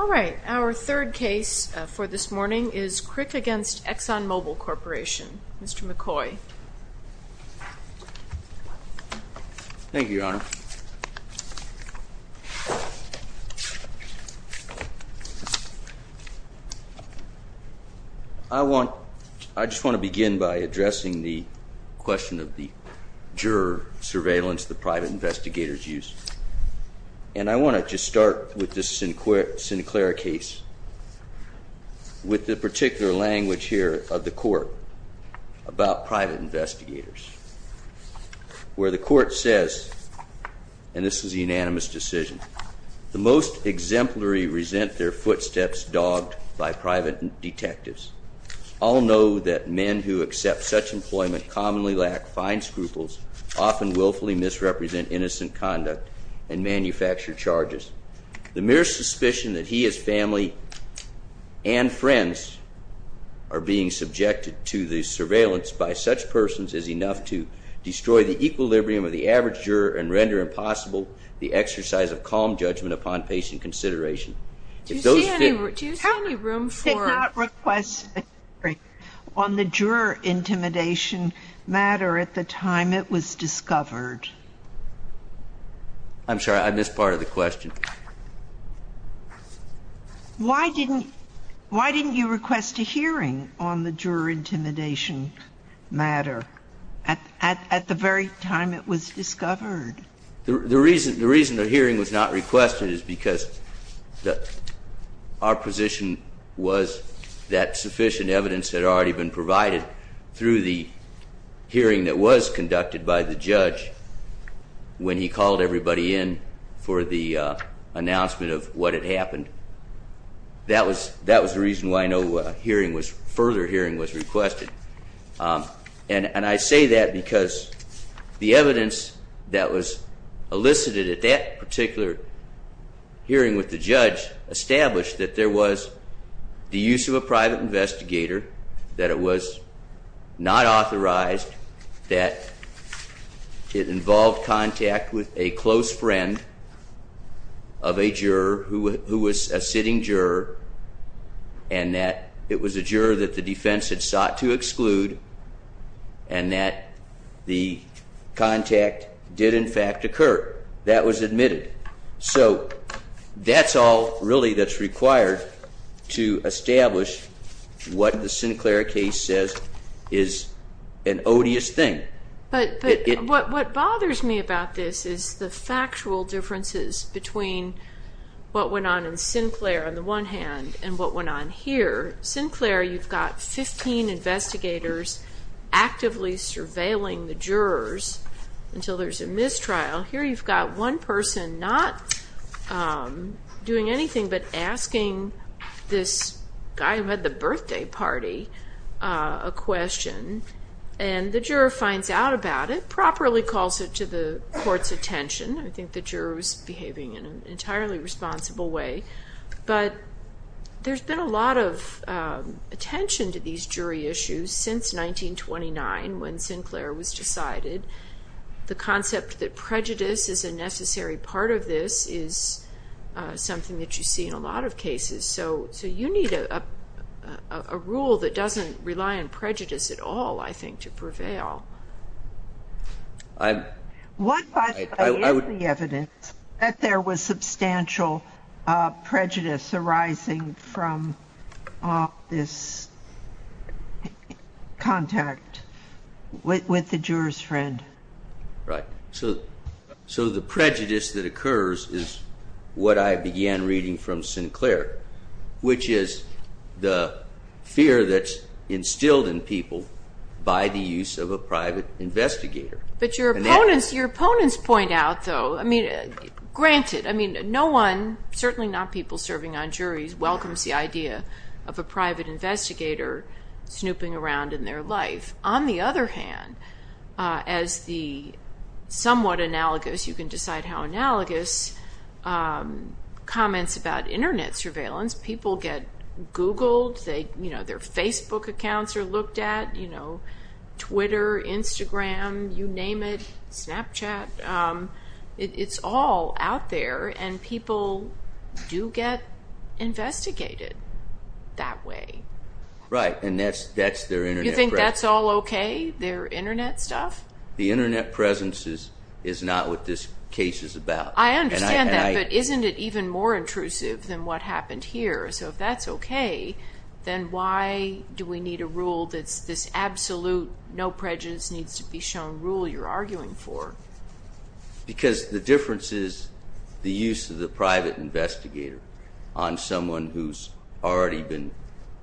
All right, our third case for this morning is Krik v. Exxon Mobil Corporation. Mr. McCoy. Thank you, Your Honor. I just want to begin by addressing the question of the juror surveillance the private investigators use. And I want to just start with this Sinclair case with the particular language here of the court about private investigators. Where the court says, and this is a unanimous decision, the most exemplary resent their footsteps dogged by private detectives. All know that men who accept such employment commonly lack fine scruples, often willfully misrepresent innocent conduct, and manufacture charges. The mere suspicion that he, his family, and friends are being subjected to the surveillance by such persons is enough to destroy the equilibrium of the average juror and render impossible the exercise of calm judgment upon patient consideration. Do you see any room for Did not request a hearing on the juror intimidation matter at the time it was discovered. I'm sorry, I missed part of the question. Why didn't you request a hearing on the juror intimidation matter at the very time it was discovered? The reason the hearing was not requested is because our position was that sufficient evidence had already been provided through the hearing that was conducted by the judge. When he called everybody in for the announcement of what had happened. That was the reason why no further hearing was requested. And I say that because the evidence that was elicited at that particular hearing with the judge established that there was the use of a private investigator. That it was not authorized. That it involved contact with a close friend of a juror who was a sitting juror. And that it was a juror that the defense had sought to exclude and that the contact did in fact occur. That was admitted. So that's all really that's required to establish what the Sinclair case says is an odious thing. But what bothers me about this is the factual differences between what went on in Sinclair on the one hand and what went on here. Sinclair, you've got 15 investigators actively surveilling the jurors until there's a mistrial. Here you've got one person not doing anything but asking this guy who had the birthday party a question. And the juror finds out about it, properly calls it to the court's attention. I think the juror was behaving in an entirely responsible way. But there's been a lot of attention to these jury issues since 1929 when Sinclair was decided. The concept that prejudice is a necessary part of this is something that you see in a lot of cases. So you need a rule that doesn't rely on prejudice at all, I think, to prevail. What, by the way, is the evidence that there was substantial prejudice arising from this contact with the juror's friend? So the prejudice that occurs is what I began reading from Sinclair, which is the fear that's instilled in people by the use of a private investigator. But your opponents point out, though, granted, no one, certainly not people serving on juries, welcomes the idea of a private investigator snooping around in their life. On the other hand, as the somewhat analogous, you can decide how analogous, comments about Internet surveillance, people get Googled, their Facebook accounts are looked at, Twitter, Instagram, you name it, Snapchat. It's all out there, and people do get investigated that way. Right, and that's their Internet. Do you think that's all okay, their Internet stuff? The Internet presence is not what this case is about. I understand that, but isn't it even more intrusive than what happened here? So if that's okay, then why do we need a rule that's this absolute no prejudice needs to be shown rule you're arguing for? Because the difference is the use of the private investigator on someone who's already been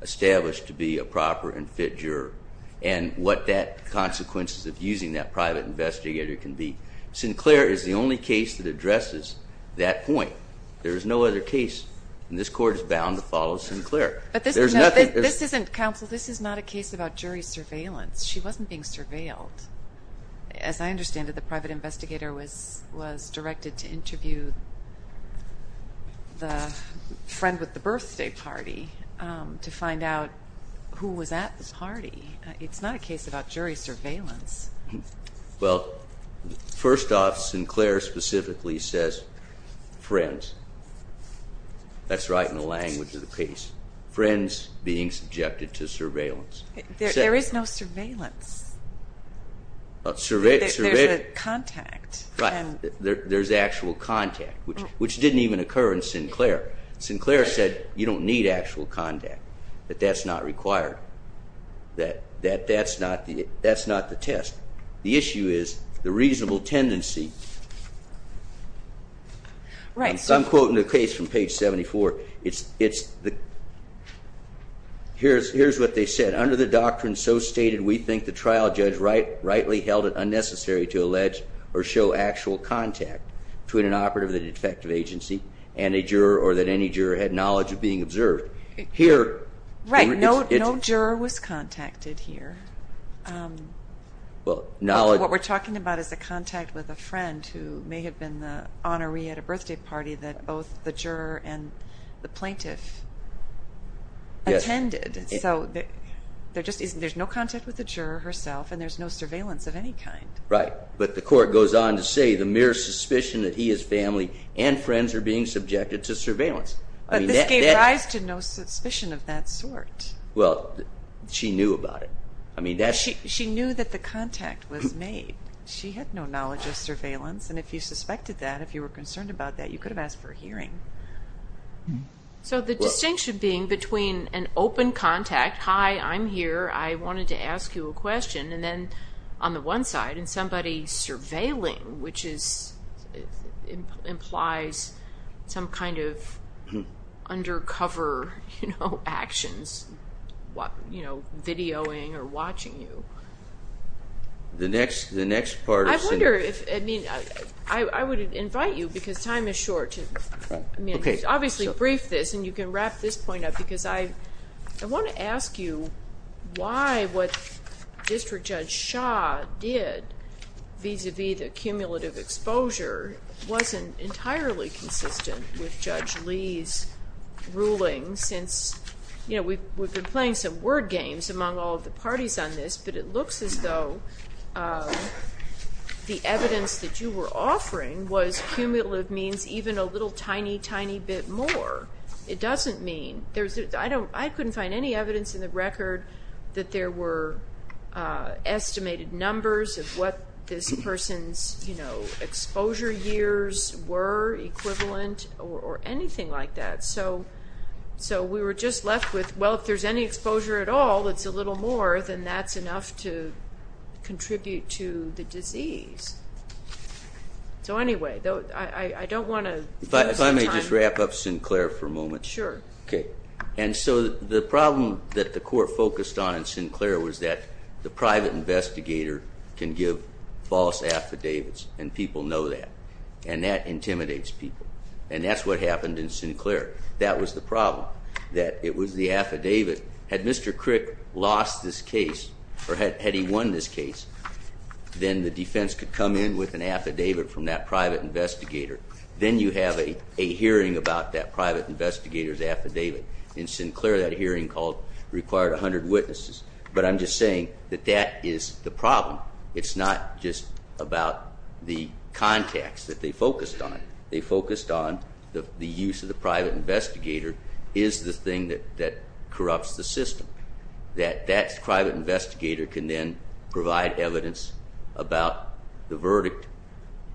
established to be a proper and fit juror and what that consequence of using that private investigator can be. Sinclair is the only case that addresses that point. There is no other case, and this Court is bound to follow Sinclair. But this isn't, Counsel, this is not a case about jury surveillance. She wasn't being surveilled. As I understand it, the private investigator was directed to interview the friend with the birthday party to find out who was at the party. It's not a case about jury surveillance. Well, first off, Sinclair specifically says friends. That's right in the language of the case, friends being subjected to surveillance. There is no surveillance. There's a contact. There's actual contact, which didn't even occur in Sinclair. Sinclair said you don't need actual contact, that that's not required, that that's not the test. The issue is the reasonable tendency. I'm quoting the case from page 74. Here's what they said. Under the doctrine so stated, we think the trial judge rightly held it unnecessary to allege or show actual contact between an operative of the detective agency and a juror or that any juror had knowledge of being observed. Right, no juror was contacted here. What we're talking about is a contact with a friend who may have been the honoree at a birthday party that both the juror and the plaintiff attended. So there's no contact with the juror herself, and there's no surveillance of any kind. Right, but the court goes on to say the mere suspicion that he, his family, and friends are being subjected to surveillance. But this gave rise to no suspicion of that sort. Well, she knew about it. She knew that the contact was made. She had no knowledge of surveillance, and if you suspected that, if you were concerned about that, you could have asked for a hearing. So the distinction being between an open contact, hi, I'm here, I wanted to ask you a question, and then on the one side somebody surveilling, which implies some kind of undercover actions, videoing or watching you. I wonder if, I mean, I would invite you, because time is short, to obviously brief this, and you can wrap this point up, because I want to ask you why what District Judge Shah did, vis-à-vis the cumulative exposure, wasn't entirely consistent with Judge Lee's ruling since, you know, we've been playing some word games among all of the parties on this, but it looks as though the evidence that you were offering was cumulative means even a little tiny, tiny bit more. It doesn't mean. I couldn't find any evidence in the record that there were estimated numbers of what this person's, you know, exposure years were, equivalent or anything like that. So we were just left with, well, if there's any exposure at all, it's a little more than that's enough to contribute to the disease. So anyway, I don't want to waste my time. If I may just wrap up Sinclair for a moment. Sure. Okay. And so the problem that the court focused on in Sinclair was that the private investigator can give false affidavits, and people know that, and that intimidates people, and that's what happened in Sinclair. That was the problem, that it was the affidavit. Had Mr. Crick lost this case, or had he won this case, then the defense could come in with an affidavit from that private investigator. Then you have a hearing about that private investigator's affidavit. In Sinclair, that hearing required 100 witnesses. But I'm just saying that that is the problem. It's not just about the context that they focused on. They focused on the use of the private investigator is the thing that corrupts the system, that that private investigator can then provide evidence about the verdict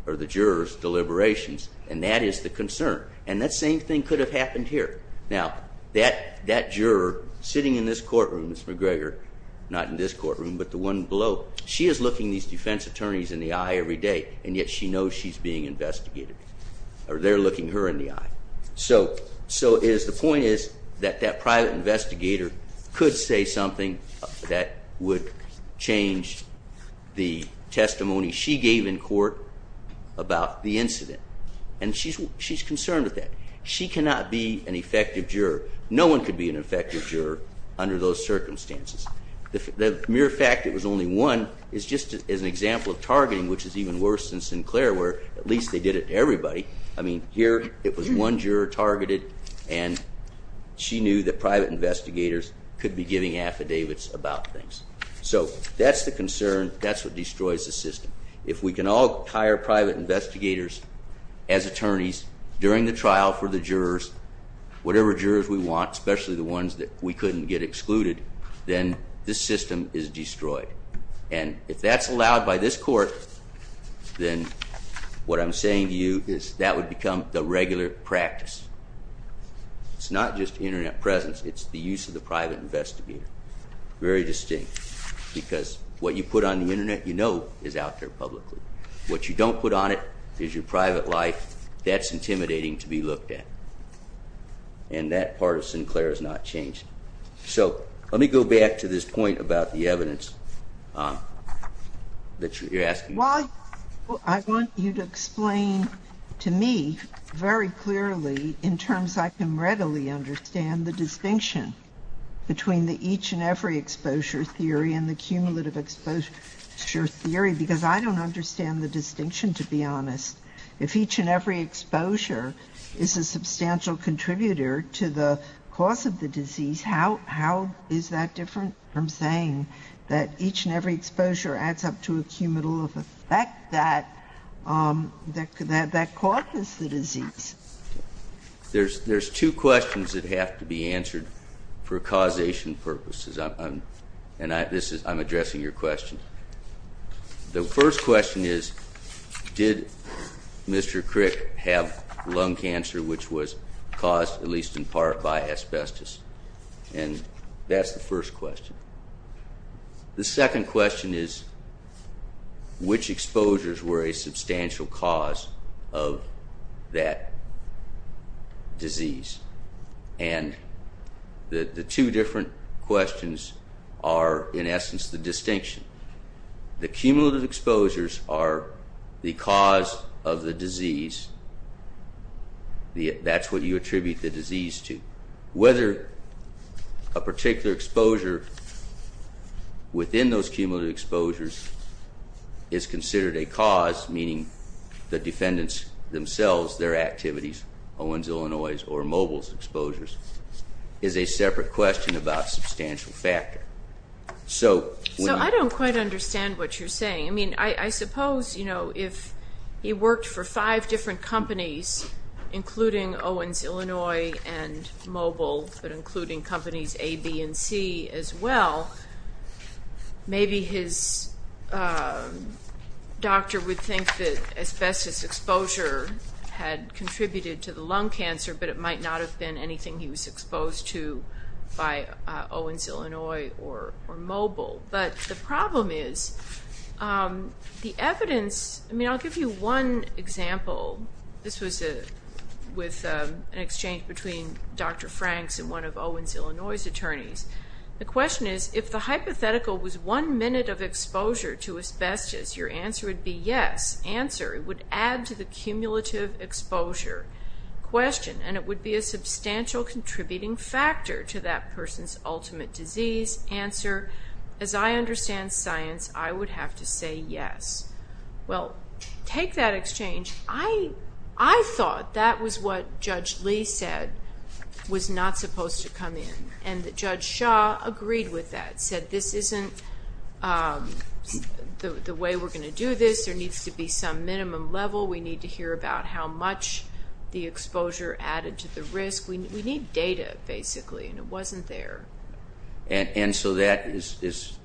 or the juror's deliberations, and that is the concern. And that same thing could have happened here. Now, that juror sitting in this courtroom, Ms. McGregor, not in this courtroom but the one below, she is looking these defense attorneys in the eye every day, and yet she knows she's being investigated, or they're looking her in the eye. So the point is that that private investigator could say something that would change the testimony she gave in court about the incident, and she's concerned with that. She cannot be an effective juror. No one could be an effective juror under those circumstances. The mere fact it was only one is just an example of targeting, which is even worse in Sinclair, where at least they did it to everybody. I mean, here it was one juror targeted, and she knew that private investigators could be giving affidavits about things. So that's the concern. That's what destroys the system. If we can all hire private investigators as attorneys during the trial for the jurors, whatever jurors we want, especially the ones that we couldn't get excluded, then this system is destroyed. And if that's allowed by this court, then what I'm saying to you is that would become the regular practice. It's not just Internet presence. It's the use of the private investigator. Very distinct, because what you put on the Internet you know is out there publicly. What you don't put on it is your private life. That's intimidating to be looked at, and that part of Sinclair has not changed. So let me go back to this point about the evidence that you're asking. Well, I want you to explain to me very clearly in terms I can readily understand the distinction between the each and every exposure theory and the cumulative exposure theory, because I don't understand the distinction, to be honest. If each and every exposure is a substantial contributor to the cause of the disease, how is that different from saying that each and every exposure adds up to a cumulative effect that causes the disease? There's two questions that have to be answered for causation purposes, and I'm addressing your question. The first question is, did Mr. Crick have lung cancer, which was caused, at least in part, by asbestos? And that's the first question. The second question is, which exposures were a substantial cause of that disease? And the two different questions are, in essence, the distinction. The cumulative exposures are the cause of the disease. That's what you attribute the disease to. Whether a particular exposure within those cumulative exposures is considered a cause, meaning the defendants themselves, their activities, Owens, Illinois, or Mobil's exposures, is a separate question about substantial factor. So I don't quite understand what you're saying. I suppose if he worked for five different companies, including Owens, Illinois and Mobil, but including companies A, B, and C as well, maybe his doctor would think that asbestos exposure had contributed to the lung cancer, but it might not have been anything he was exposed to by Owens, Illinois or Mobil. But the problem is the evidence... I mean, I'll give you one example. This was with an exchange between Dr. Franks and one of Owens, Illinois's attorneys. The question is, if the hypothetical was one minute of exposure to asbestos, your answer would be yes. Answer, it would add to the cumulative exposure question, and it would be a substantial contributing factor to that person's ultimate disease. Answer, as I understand science, I would have to say yes. Well, take that exchange. I thought that was what Judge Lee said was not supposed to come in, and that Judge Shaw agreed with that, said this isn't the way we're going to do this. There needs to be some minimum level. We need to hear about how much the exposure added to the risk. We need data, basically, and it wasn't there. And so that is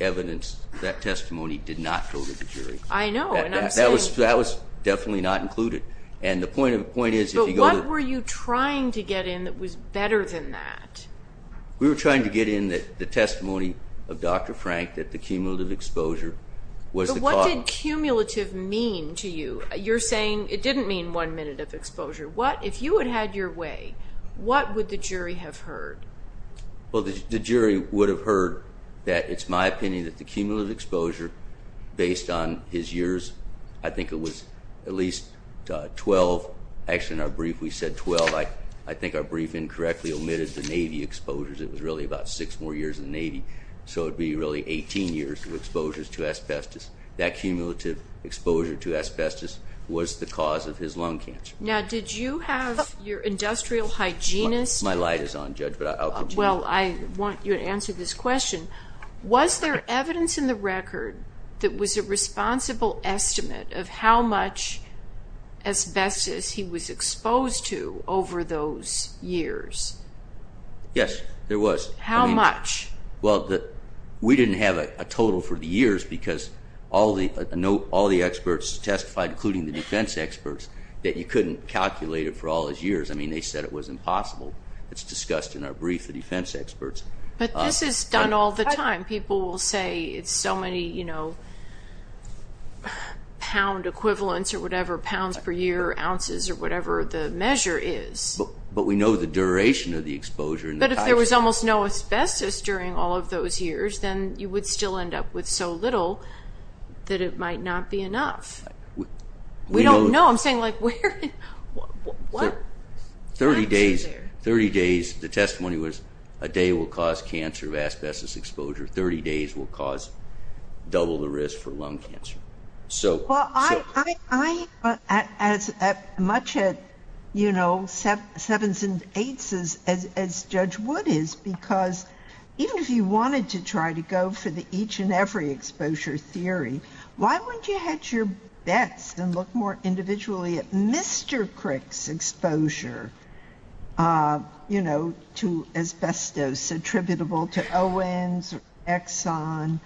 evidence that testimony did not go to the jury. I know, and I'm saying... That was definitely not included. And the point is if you go to... But what were you trying to get in that was better than that? We were trying to get in the testimony of Dr. Frank that the cumulative exposure was the cause. But what did cumulative mean to you? You're saying it didn't mean one minute of exposure. If you had had your way, what would the jury have heard? Well, the jury would have heard that it's my opinion that the cumulative exposure, based on his years, I think it was at least 12. Actually, in our brief, we said 12. I think our brief incorrectly omitted the Navy exposures. It was really about 6 more years in the Navy, so it would be really 18 years of exposures to asbestos. That cumulative exposure to asbestos was the cause of his lung cancer. Now, did you have your industrial hygienist... My light is on, Judge, but I'll continue. Well, I want you to answer this question. Was there evidence in the record that was a responsible estimate of how much asbestos he was exposed to over those years? Yes, there was. How much? Well, we didn't have a total for the years because all the experts testified, including the defense experts, that you couldn't calculate it for all his years. I mean, they said it was impossible. It's discussed in our brief, the defense experts. But this is done all the time. People will say it's so many pound equivalents or whatever, pounds per year, ounces, or whatever the measure is. But we know the duration of the exposure. But if there was almost no asbestos during all of those years, then you would still end up with so little that it might not be enough. We don't know. I'm saying, like, where? Thirty days. The testimony was a day will cause cancer of asbestos exposure. Thirty days will cause double the risk for lung cancer. Well, I'm as much at, you know, sevens and eights as Judge Wood is because even if you wanted to try to go for the each and every exposure theory, why wouldn't you hedge your bets and look more individually at Mr. Crick's exposure, you know, to asbestos attributable to Owens or Exxon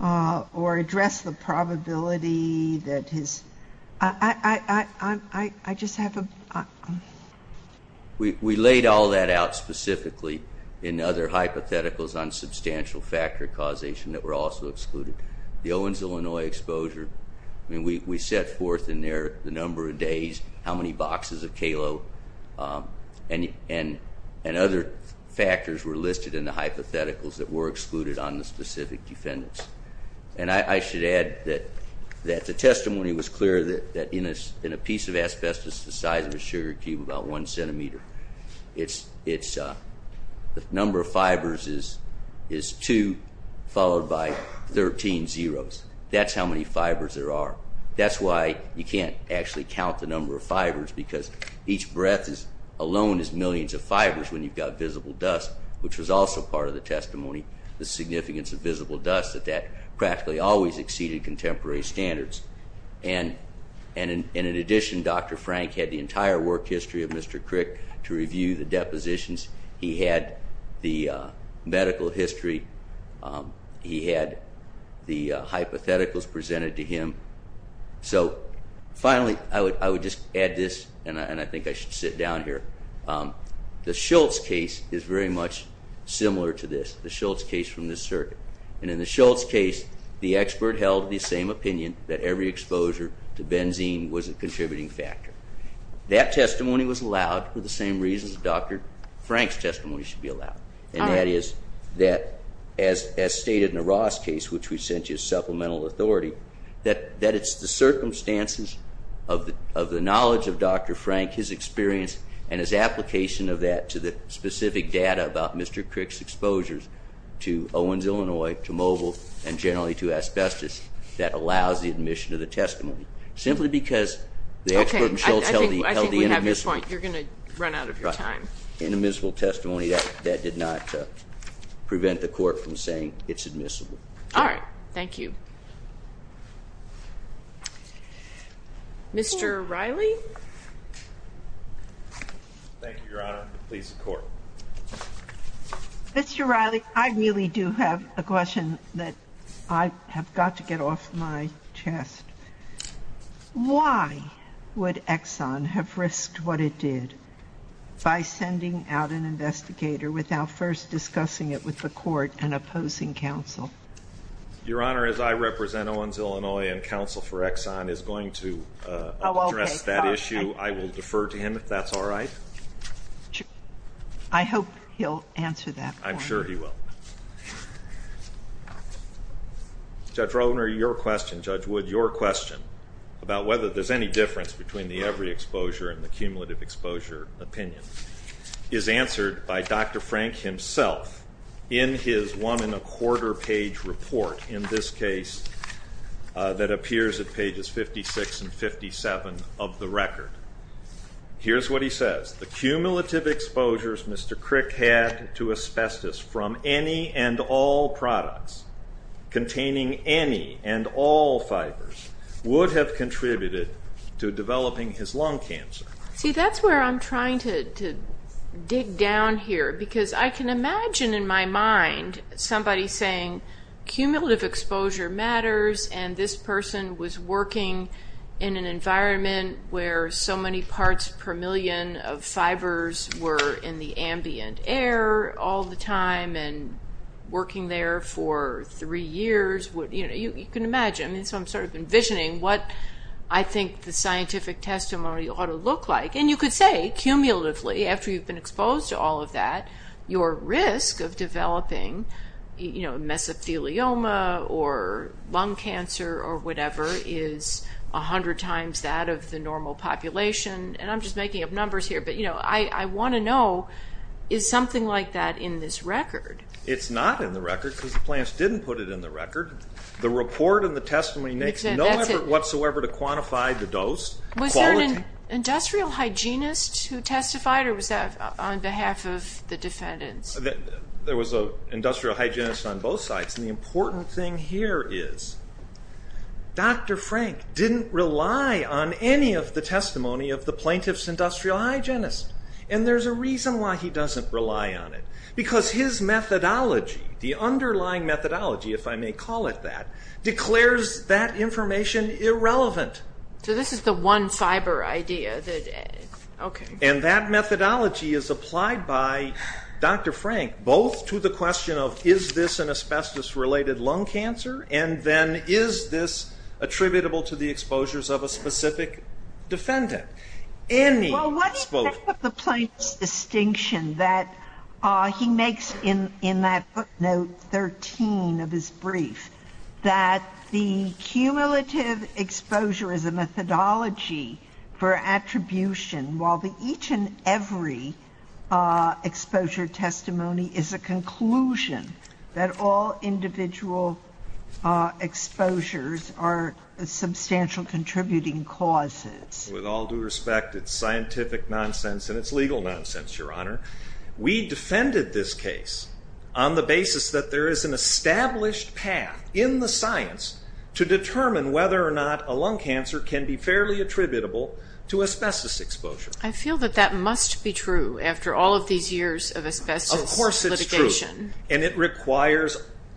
or address the probability that his – I just have a – We laid all that out specifically in other hypotheticals on substantial factor causation that were also excluded. The Owens, Illinois exposure, I mean, we set forth in there the number of days, how many boxes of Kalo, and other factors were listed in the hypotheticals that were excluded on the specific defendants. And I should add that the testimony was clear that in a piece of asbestos the size of a sugar cube, about one centimeter, the number of fibers is two followed by 13 zeros. That's how many fibers there are. That's why you can't actually count the number of fibers because each breath alone is millions of fibers when you've got visible dust, which was also part of the testimony, the significance of visible dust, that that practically always exceeded contemporary standards. And in addition, Dr. Frank had the entire work history of Mr. Crick to review the depositions. He had the medical history. He had the hypotheticals presented to him. So finally, I would just add this, and I think I should sit down here. The Schultz case is very much similar to this, the Schultz case from this circuit. And in the Schultz case, the expert held the same opinion that every exposure to benzene was a contributing factor. That testimony was allowed for the same reasons Dr. Frank's testimony should be allowed, and that is that, as stated in the Ross case, which we sent you as supplemental authority, that it's the circumstances of the knowledge of Dr. Frank, his experience, and his application of that to the specific data about Mr. Crick's exposures to Owens, Illinois, to Mobil, and generally to asbestos that allows the admission of the testimony, simply because the expert in Schultz held the inadmissible. Okay. I think we have your point. You're going to run out of your time. Right. Inadmissible testimony that did not prevent the court from saying it's admissible. All right. Thank you. Mr. Riley? Thank you, Your Honor. Please, the Court. Mr. Riley, I really do have a question that I have got to get off my chest. Why would Exxon have risked what it did by sending out an investigator without first discussing it with the court and opposing counsel? Your Honor, as I represent Owens, Illinois, and counsel for Exxon is going to address that issue. I will defer to him if that's all right. I hope he'll answer that. I'm sure he will. Judge Rolner, your question, Judge Wood, your question about whether there's any difference between the every exposure and the cumulative exposure opinion is answered by Dr. Frank himself in his one-and-a-quarter-page report, in this case, that appears at pages 56 and 57 of the record. Here's what he says. The cumulative exposures Mr. Crick had to asbestos from any and all products containing any and all fibers would have contributed to developing his lung cancer. See, that's where I'm trying to dig down here, because I can imagine in my mind somebody saying, cumulative exposure matters, and this person was working in an environment where so many parts per million of fibers were in the ambient air all the time and working there for three years. You can imagine. So I'm sort of envisioning what I think the scientific testimony ought to look like. And you could say, cumulatively, after you've been exposed to all of that, your risk of developing mesothelioma or lung cancer or whatever is 100 times that of the normal population. And I'm just making up numbers here, but I want to know, is something like that in this record? It's not in the record because the plants didn't put it in the record. The report and the testimony makes no effort whatsoever to quantify the dose. Was there an industrial hygienist who testified, or was that on behalf of the defendants? There was an industrial hygienist on both sides. And the important thing here is, Dr. Frank didn't rely on any of the testimony of the plaintiff's industrial hygienist. And there's a reason why he doesn't rely on it. Because his methodology, the underlying methodology, if I may call it that, declares that information irrelevant. So this is the one fiber idea. And that methodology is applied by Dr. Frank, both to the question of, is this an asbestos-related lung cancer? And then, is this attributable to the exposures of a specific defendant? Well, what is the plaintiff's distinction that he makes in that footnote 13 of his brief, that the cumulative exposure is a methodology for attribution, while the each and every exposure testimony is a conclusion that all individual exposures are substantial contributing causes? With all due respect, it's scientific nonsense and it's legal nonsense, Your Honor. We defended this case on the basis that there is an established path in the science to determine whether or not a lung cancer can be fairly attributable to asbestos exposure. I feel that that must be true after all of these years of asbestos litigation. Of course it's true. And it requires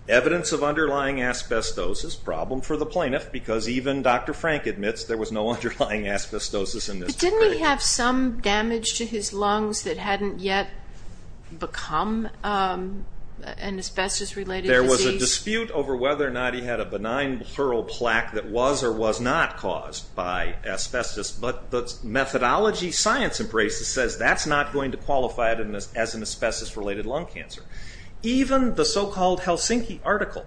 evidence of underlying asbestosis, problem for the plaintiff, because even Dr. Frank admits there was no underlying asbestosis in this case. But didn't he have some damage to his lungs that hadn't yet become an asbestos-related disease? There was a dispute over whether or not he had a benign pleural plaque that was or was not caused by asbestos, but the methodology science embraces says that's not going to qualify it as an asbestos-related lung cancer. Even the so-called Helsinki article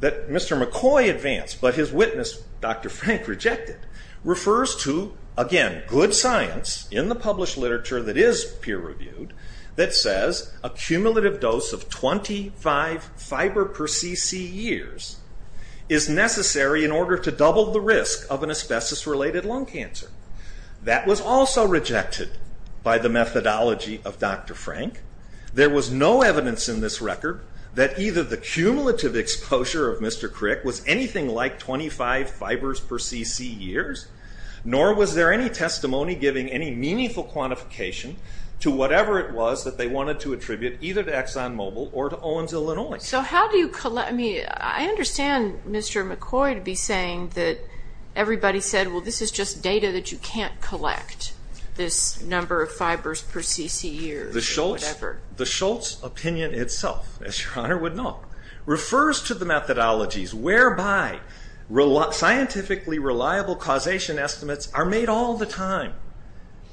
that Mr. McCoy advanced but his witness, Dr. Frank, rejected, refers to, again, good science in the published literature that is peer-reviewed, that says a cumulative dose of 25 fiber per cc years is necessary in order to double the risk of an asbestos-related lung cancer. That was also rejected by the methodology of Dr. Frank. There was no evidence in this record that either the cumulative exposure of Mr. Crick was anything like 25 fibers per cc years, nor was there any testimony giving any meaningful quantification to whatever it was that they wanted to attribute either to ExxonMobil or to Owens, Illinois. I understand Mr. McCoy to be saying that everybody said, well, this is just data that you can't collect, this number of fibers per cc years. The Schultz opinion itself, as Your Honor would know, refers to the methodologies whereby scientifically reliable causation estimates are made all the time.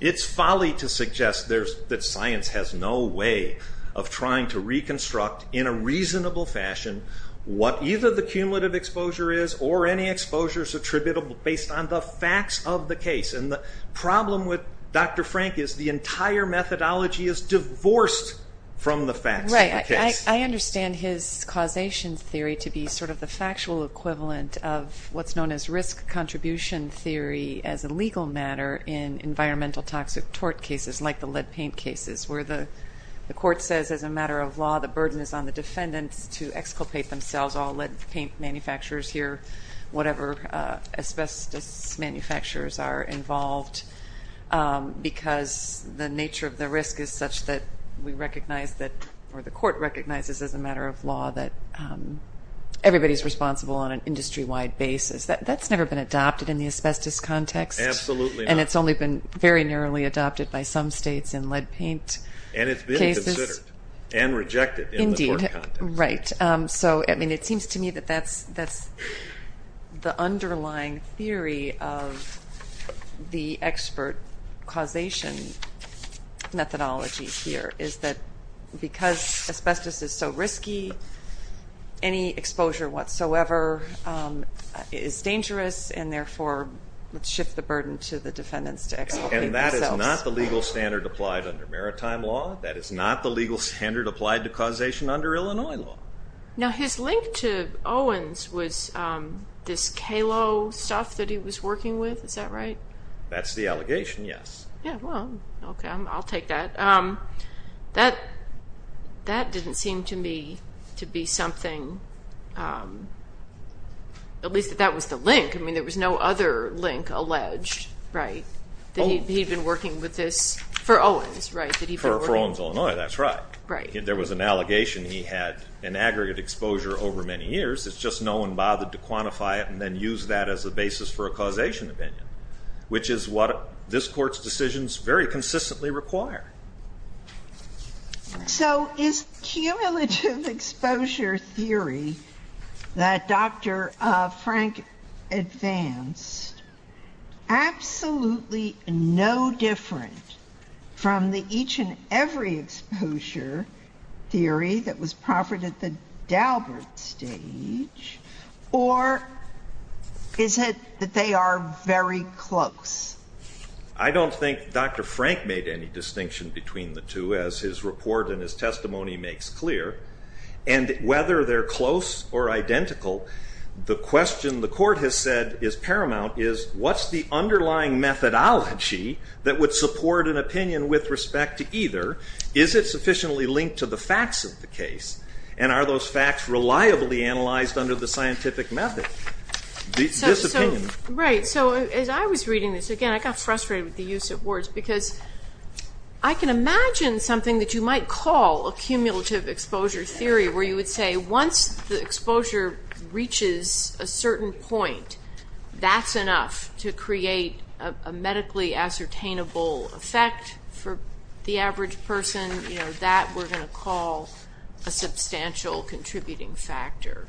It's folly to suggest that science has no way of trying to reconstruct, in a reasonable fashion, what either the cumulative exposure is or any exposures attributable based on the facts of the case. The problem with Dr. Frank is the entire methodology is divorced from the facts of the case. I understand his causation theory to be sort of the factual equivalent of what's known as risk contribution theory as a legal matter in environmental toxic tort cases like the lead paint cases where the court says as a matter of law the burden is on the defendants to exculpate themselves, all lead paint manufacturers here, whatever asbestos manufacturers are involved, because the nature of the risk is such that we recognize that, or the court recognizes as a matter of law that everybody is responsible on an industry-wide basis. That's never been adopted in the asbestos context. Absolutely not. And it's only been very narrowly adopted by some states in lead paint cases. And it's been considered and rejected in the tort context. Right. So, I mean, it seems to me that that's the underlying theory of the expert causation methodology here, is that because asbestos is so risky, any exposure whatsoever is dangerous and therefore would shift the burden to the defendants to exculpate themselves. And that is not the legal standard applied under maritime law. That is not the legal standard applied to causation under Illinois law. Now, his link to Owens was this KALO stuff that he was working with. Is that right? That's the allegation, yes. Yeah, well, okay. I'll take that. That didn't seem to me to be something, at least that that was the link. I mean, there was no other link alleged, right, that he'd been working with this for Owens, right? For Owens, Illinois, that's right. Right. There was an allegation he had an aggregate exposure over many years. It's just no one bothered to quantify it and then use that as a basis for a causation opinion, which is what this Court's decisions very consistently require. So is cumulative exposure theory that Dr. Frank advanced absolutely no different from the each and every exposure theory that was proffered at the Dalbert stage, or is it that they are very close? I don't think Dr. Frank made any distinction between the two, as his report and his testimony makes clear. And whether they're close or identical, the question the Court has said is paramount is, what's the underlying methodology that would support an opinion with respect to either? Is it sufficiently linked to the facts of the case, and are those facts reliably analyzed under the scientific method? This opinion. Right. So as I was reading this, again, I got frustrated with the use of words, because I can imagine something that you might call a cumulative exposure theory, where you would say once the exposure reaches a certain point, that's enough to create a medically ascertainable effect for the average person. That we're going to call a substantial contributing factor.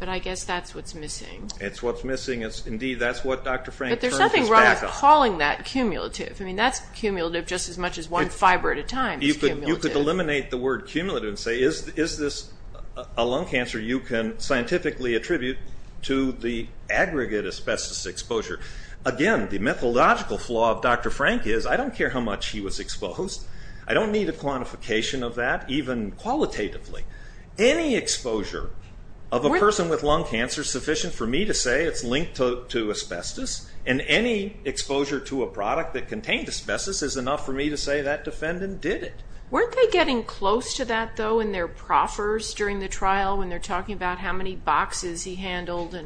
But I guess that's what's missing. It's what's missing. Indeed, that's what Dr. Frank turned his back on. But there's nothing wrong with calling that cumulative. I mean, that's cumulative just as much as one fiber at a time is cumulative. You could eliminate the word cumulative and say, is this a lung cancer you can scientifically attribute to the aggregate asbestos exposure? Again, the methodological flaw of Dr. Frank is, I don't care how much he was exposed. I don't need a quantification of that, even qualitatively. Any exposure of a person with lung cancer is sufficient for me to say it's linked to asbestos, and any exposure to a product that contained asbestos is enough for me to say that defendant did it. Weren't they getting close to that, though, in their proffers during the trial, when they're talking about how many boxes he handled?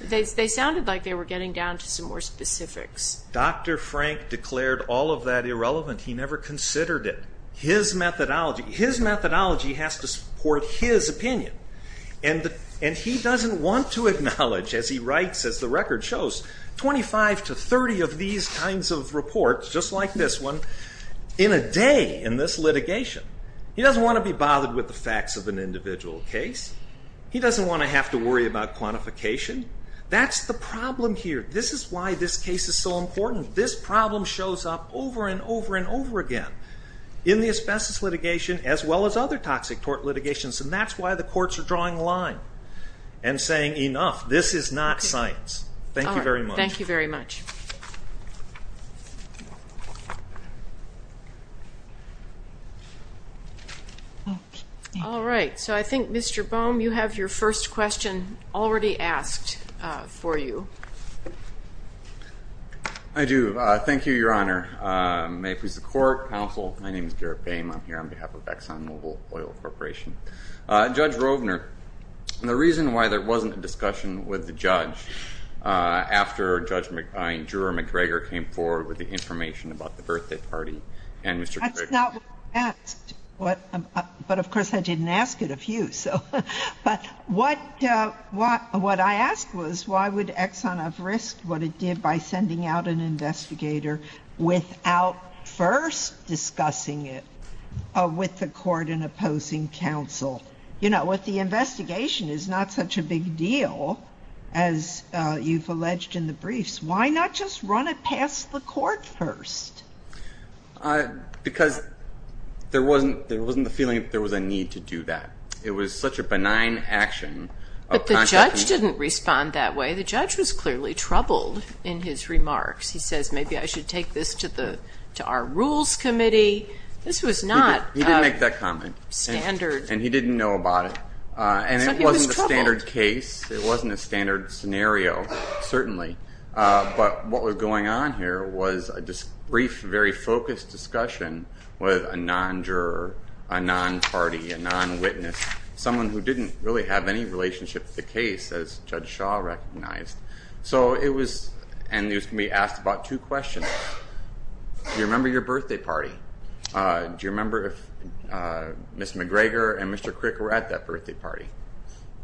They sounded like they were getting down to some more specifics. Dr. Frank declared all of that irrelevant. He never considered it. His methodology has to support his opinion, and he doesn't want to acknowledge, as he writes, as the record shows, 25 to 30 of these kinds of reports, just like this one, in a day in this litigation. He doesn't want to be bothered with the facts of an individual case. He doesn't want to have to worry about quantification. That's the problem here. This is why this case is so important. This problem shows up over and over and over again in the asbestos litigation, as well as other toxic tort litigations, and that's why the courts are drawing the line and saying, enough, this is not science. Thank you very much. Thank you very much. All right. So I think, Mr. Boehm, you have your first question already asked for you. I do. Thank you, Your Honor. May it please the court, counsel, my name is Garrett Boehm. I'm here on behalf of ExxonMobil Oil Corporation. Judge Rovner, the reason why there wasn't a discussion with the judge after Judge McIntyre and McGregor came forward with the information about the birthday party and Mr. McGregor. That's not what I asked. But, of course, I didn't ask it of you. But what I asked was why would Exxon have risked what it did by sending out an investigator without first discussing it with the court and opposing counsel? You know, with the investigation, it's not such a big deal, as you've alleged in the briefs. Why not just run it past the court first? Because there wasn't the feeling that there was a need to do that. It was such a benign action. But the judge didn't respond that way. The judge was clearly troubled in his remarks. He says, maybe I should take this to our rules committee. This was not standard. He didn't make that comment, and he didn't know about it. So he was troubled. And it wasn't a standard case. It wasn't a standard scenario, certainly. But what was going on here was a brief, very focused discussion with a non-juror, a non-party, a non-witness, someone who didn't really have any relationship to the case, as Judge Shaw recognized. And he was going to be asked about two questions. Do you remember your birthday party? Do you remember if Ms. McGregor and Mr. Crick were at that birthday party?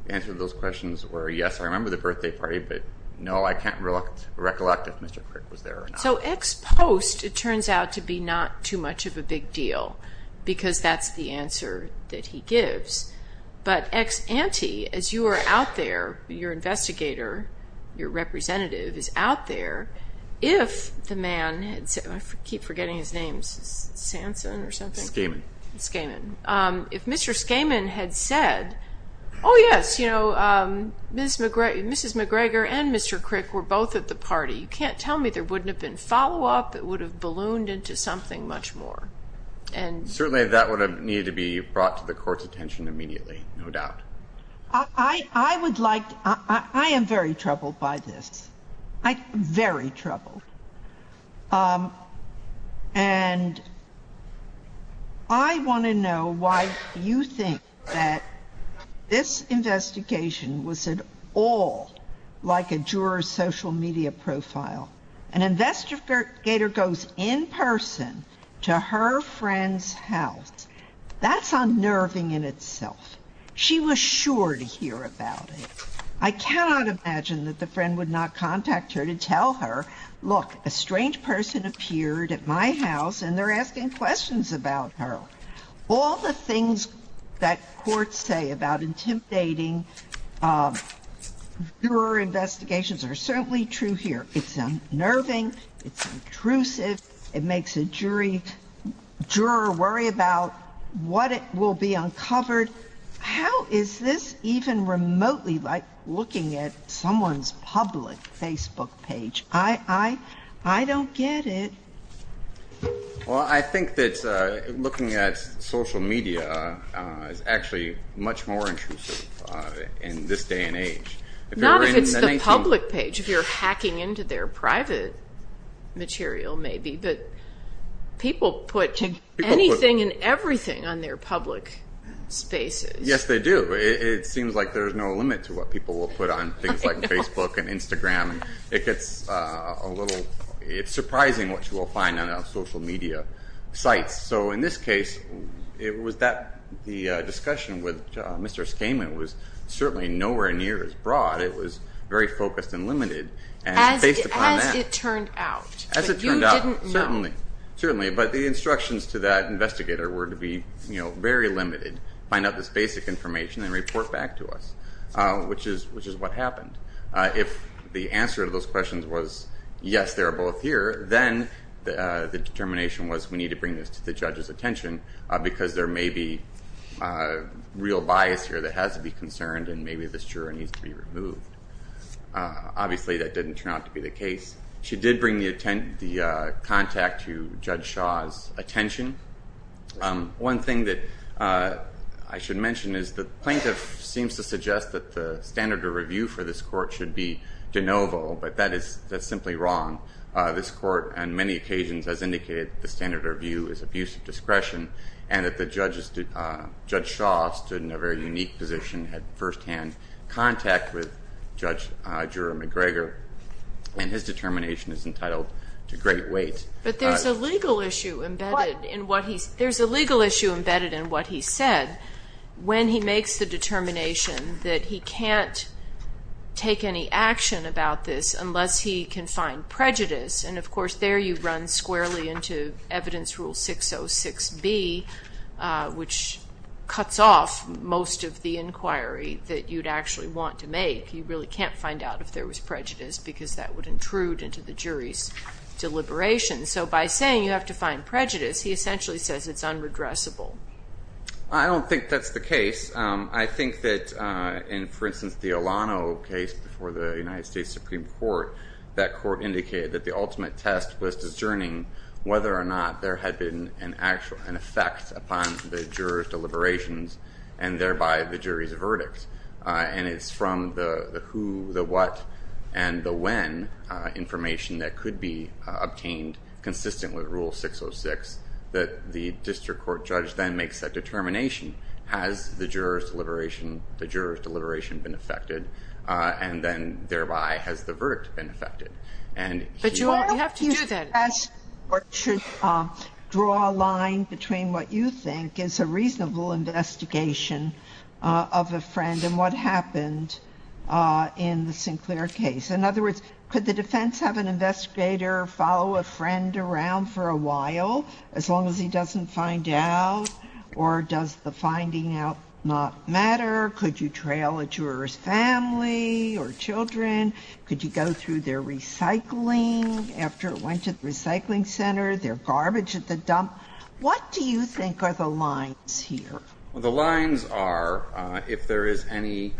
The answer to those questions were, yes, I remember the birthday party, but no, I can't recollect if Mr. Crick was there or not. So ex post, it turns out to be not too much of a big deal because that's the answer that he gives. But ex ante, as you are out there, your investigator, your representative is out there, if the man had said, I keep forgetting his name, Sanson or something? Skaman. Skaman. If Mr. Skaman had said, oh, yes, you know, Mrs. McGregor and Mr. Crick were both at the party, you can't tell me there wouldn't have been follow-up. It would have ballooned into something much more. Certainly that would have needed to be brought to the court's attention immediately, no doubt. I am very troubled by this, very troubled. And I want to know why you think that this investigation was at all like a juror's social media profile. An investigator goes in person to her friend's house. That's unnerving in itself. She was sure to hear about it. I cannot imagine that the friend would not contact her to tell her, look, a strange person appeared at my house and they're asking questions about her. All the things that courts say about intimidating juror investigations are certainly true here. It's unnerving. It's intrusive. It makes a jury, juror worry about what will be uncovered. How is this even remotely like looking at someone's public Facebook page? I don't get it. Well, I think that looking at social media is actually much more intrusive in this day and age. Not if it's the public page, if you're hacking into their private material maybe, but people put anything and everything on their public spaces. Yes, they do. It seems like there's no limit to what people will put on things like Facebook and Instagram. It's surprising what you will find on social media sites. So in this case, the discussion with Mr. Skamen was certainly nowhere near as broad. It was very focused and limited. As it turned out. You didn't know. Certainly, but the instructions to that investigator were to be very limited, find out this basic information and report back to us, which is what happened. If the answer to those questions was yes, they're both here, then the determination was we need to bring this to the judge's attention because there may be real bias here that has to be concerned and maybe this juror needs to be removed. Obviously, that didn't turn out to be the case. She did bring the contact to Judge Shaw's attention. One thing that I should mention is the plaintiff seems to suggest that the standard of review for this court should be de novo, but that's simply wrong. This court on many occasions has indicated the standard of review is abuse of discretion and that Judge Shaw stood in a very unique position, had firsthand contact with Judge Jura McGregor and his determination is entitled to great weight. But there's a legal issue embedded in what he said. When he makes the determination that he can't take any action about this unless he can find prejudice, and of course there you run squarely into evidence rule 606B, which cuts off most of the inquiry that you'd actually want to make. You really can't find out if there was prejudice because that would intrude into the jury's deliberations. So by saying you have to find prejudice, he essentially says it's unredressable. I don't think that's the case. I think that in, for instance, the Olano case before the United States Supreme Court, that court indicated that the ultimate test was discerning whether or not there had been an effect upon the juror's deliberations and thereby the jury's verdict. And it's from the who, the what, and the when information that could be obtained consistent with rule 606 that the district court judge then makes that determination. Has the juror's deliberation been affected? And then thereby has the verdict been affected? But you have to do that. The last part should draw a line between what you think is a reasonable investigation of a friend and what happened in the Sinclair case. In other words, could the defense have an investigator follow a friend around for a while as long as he doesn't find out? Or does the finding out not matter? Could you trail a juror's family or children? Could you go through their recycling after it went to the recycling center, their garbage at the dump? What do you think are the lines here? Well, the lines are if there is any,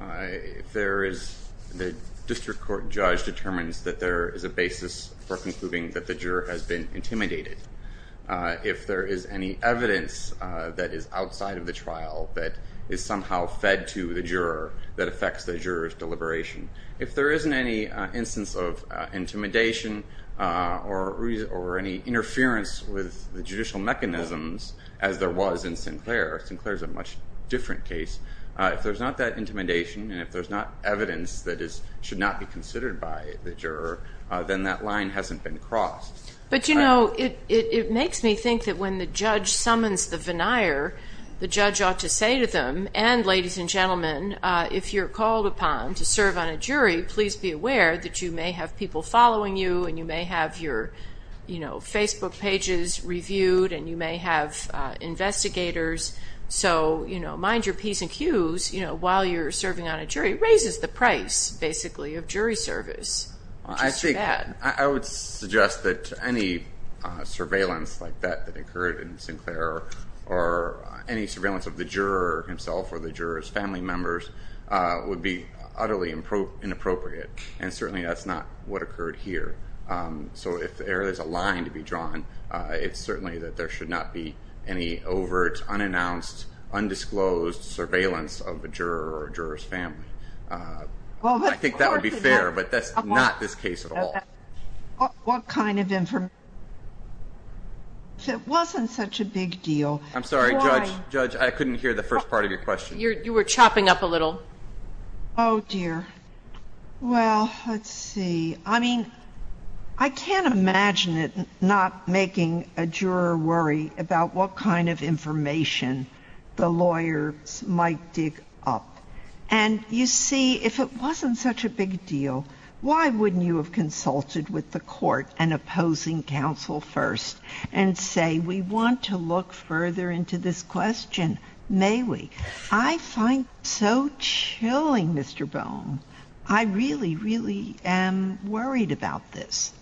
if there is, the district court judge determines that there is a basis for concluding that the juror has been intimidated. If there is any evidence that is outside of the trial that is somehow fed to the juror that affects the juror's deliberation. If there isn't any instance of intimidation or any interference with the judicial mechanisms, as there was in Sinclair, Sinclair's a much different case. If there's not that intimidation and if there's not evidence that should not be considered by the juror, then that line hasn't been crossed. But, you know, it makes me think that when the judge summons the veneer, the judge ought to say to them, and ladies and gentlemen, if you're called upon to serve on a jury, please be aware that you may have people following you and you may have your, you know, Facebook pages reviewed and you may have investigators. So, you know, mind your P's and Q's, you know, while you're serving on a jury. It raises the price, basically, of jury service. I would suggest that any surveillance like that that occurred in Sinclair or any surveillance of the juror himself or the juror's family members would be utterly inappropriate, and certainly that's not what occurred here. So if there is a line to be drawn, it's certainly that there should not be any overt, unannounced, undisclosed surveillance of a juror or a juror's family. I think that would be fair, but that's not this case at all. If it wasn't such a big deal. I'm sorry, Judge. Judge, I couldn't hear the first part of your question. You were chopping up a little. Oh, dear. Well, let's see. I mean, I can't imagine it not making a juror worry about what kind of information the lawyers might dig up. And you see, if it wasn't such a big deal, why wouldn't you have consulted with the court and opposing counsel first and say, we want to look further into this question, may we? I find it so chilling, Mr. Bone. I really, really am worried about this.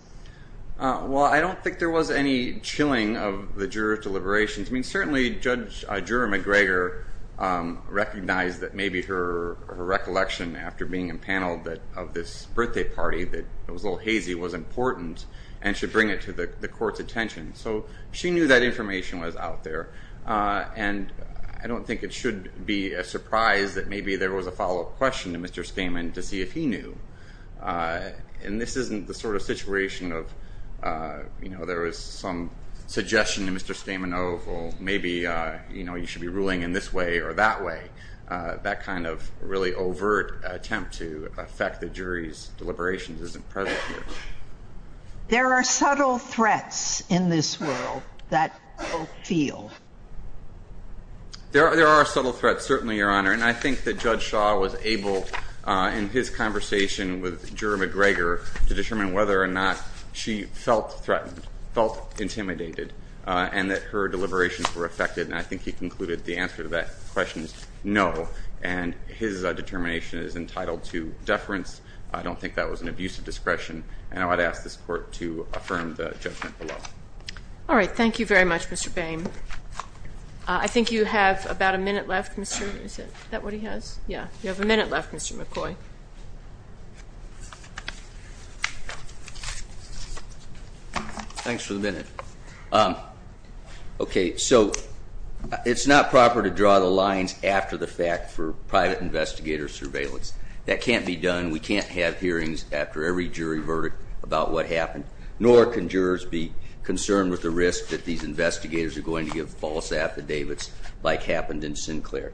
Well, I don't think there was any chilling of the juror deliberations. I mean, certainly, Judge Drew McGregor recognized that maybe her recollection after being empaneled of this birthday party, that it was a little hazy, was important and should bring it to the court's attention. So she knew that information was out there. And I don't think it should be a surprise that maybe there was a follow-up question to Mr. Stamen to see if he knew. And this isn't the sort of situation of there was some suggestion to Mr. Stamen of, well, maybe you should be ruling in this way or that way. That kind of really overt attempt to affect the jury's deliberations isn't present here. There are subtle threats in this world that people feel. There are subtle threats, certainly, Your Honor. And I think that Judge Shaw was able, in his conversation with Juror McGregor, to determine whether or not she felt threatened, felt intimidated, and that her deliberations were affected. And I think he concluded the answer to that question is no. And his determination is entitled to deference. I don't think that was an abuse of discretion. And I would ask this Court to affirm the judgment below. All right. Thank you very much, Mr. Boehm. I think you have about a minute left. Is that what he has? Yeah, you have a minute left, Mr. McCoy. Thanks for the minute. Okay, so it's not proper to draw the lines after the fact for private investigator surveillance. That can't be done. We can't have hearings after every jury verdict about what happened, nor can jurors be concerned with the risk that these investigators are going to give false affidavits like happened in Sinclair.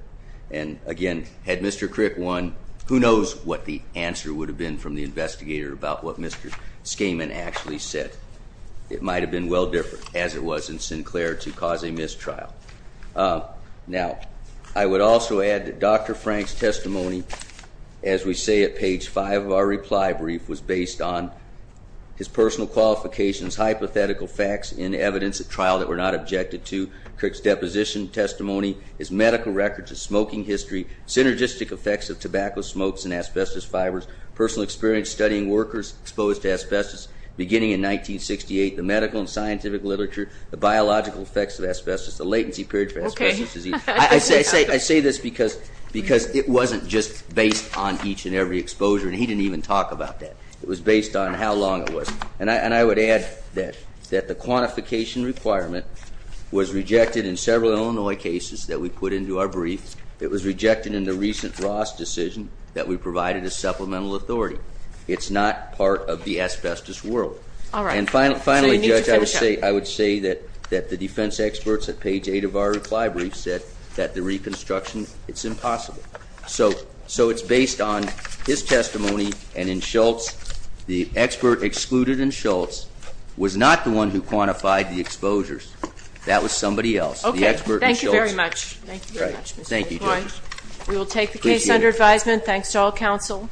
And, again, had Mr. Crick won, who knows what the answer would have been from the investigator about what Mr. Schaman actually said. It might have been well different, as it was in Sinclair, to cause a mistrial. Now, I would also add that Dr. Frank's testimony, as we say at page 5 of our reply brief, was based on his personal qualifications, hypothetical facts in evidence at trial that were not objected to, Crick's deposition testimony, his medical records, his smoking history, synergistic effects of tobacco smokes and asbestos fibers, personal experience studying workers exposed to asbestos beginning in 1968, the medical and scientific literature, the biological effects of asbestos, the latency period for asbestos disease. I say this because it wasn't just based on each and every exposure, and he didn't even talk about that. It was based on how long it was. And I would add that the quantification requirement was rejected in several Illinois cases that we put into our brief. It was rejected in the recent Ross decision that we provided a supplemental authority. It's not part of the asbestos world. All right. And finally, Judge, I would say that the defense experts at page 8 of our reply brief said that the reconstruction, it's impossible. So it's based on his testimony, and in Schultz, the expert excluded in Schultz was not the one who quantified the exposures. That was somebody else, the expert in Schultz. Okay, thank you very much. Thank you, Judge. We will take the case under advisement. Thanks to all counsel.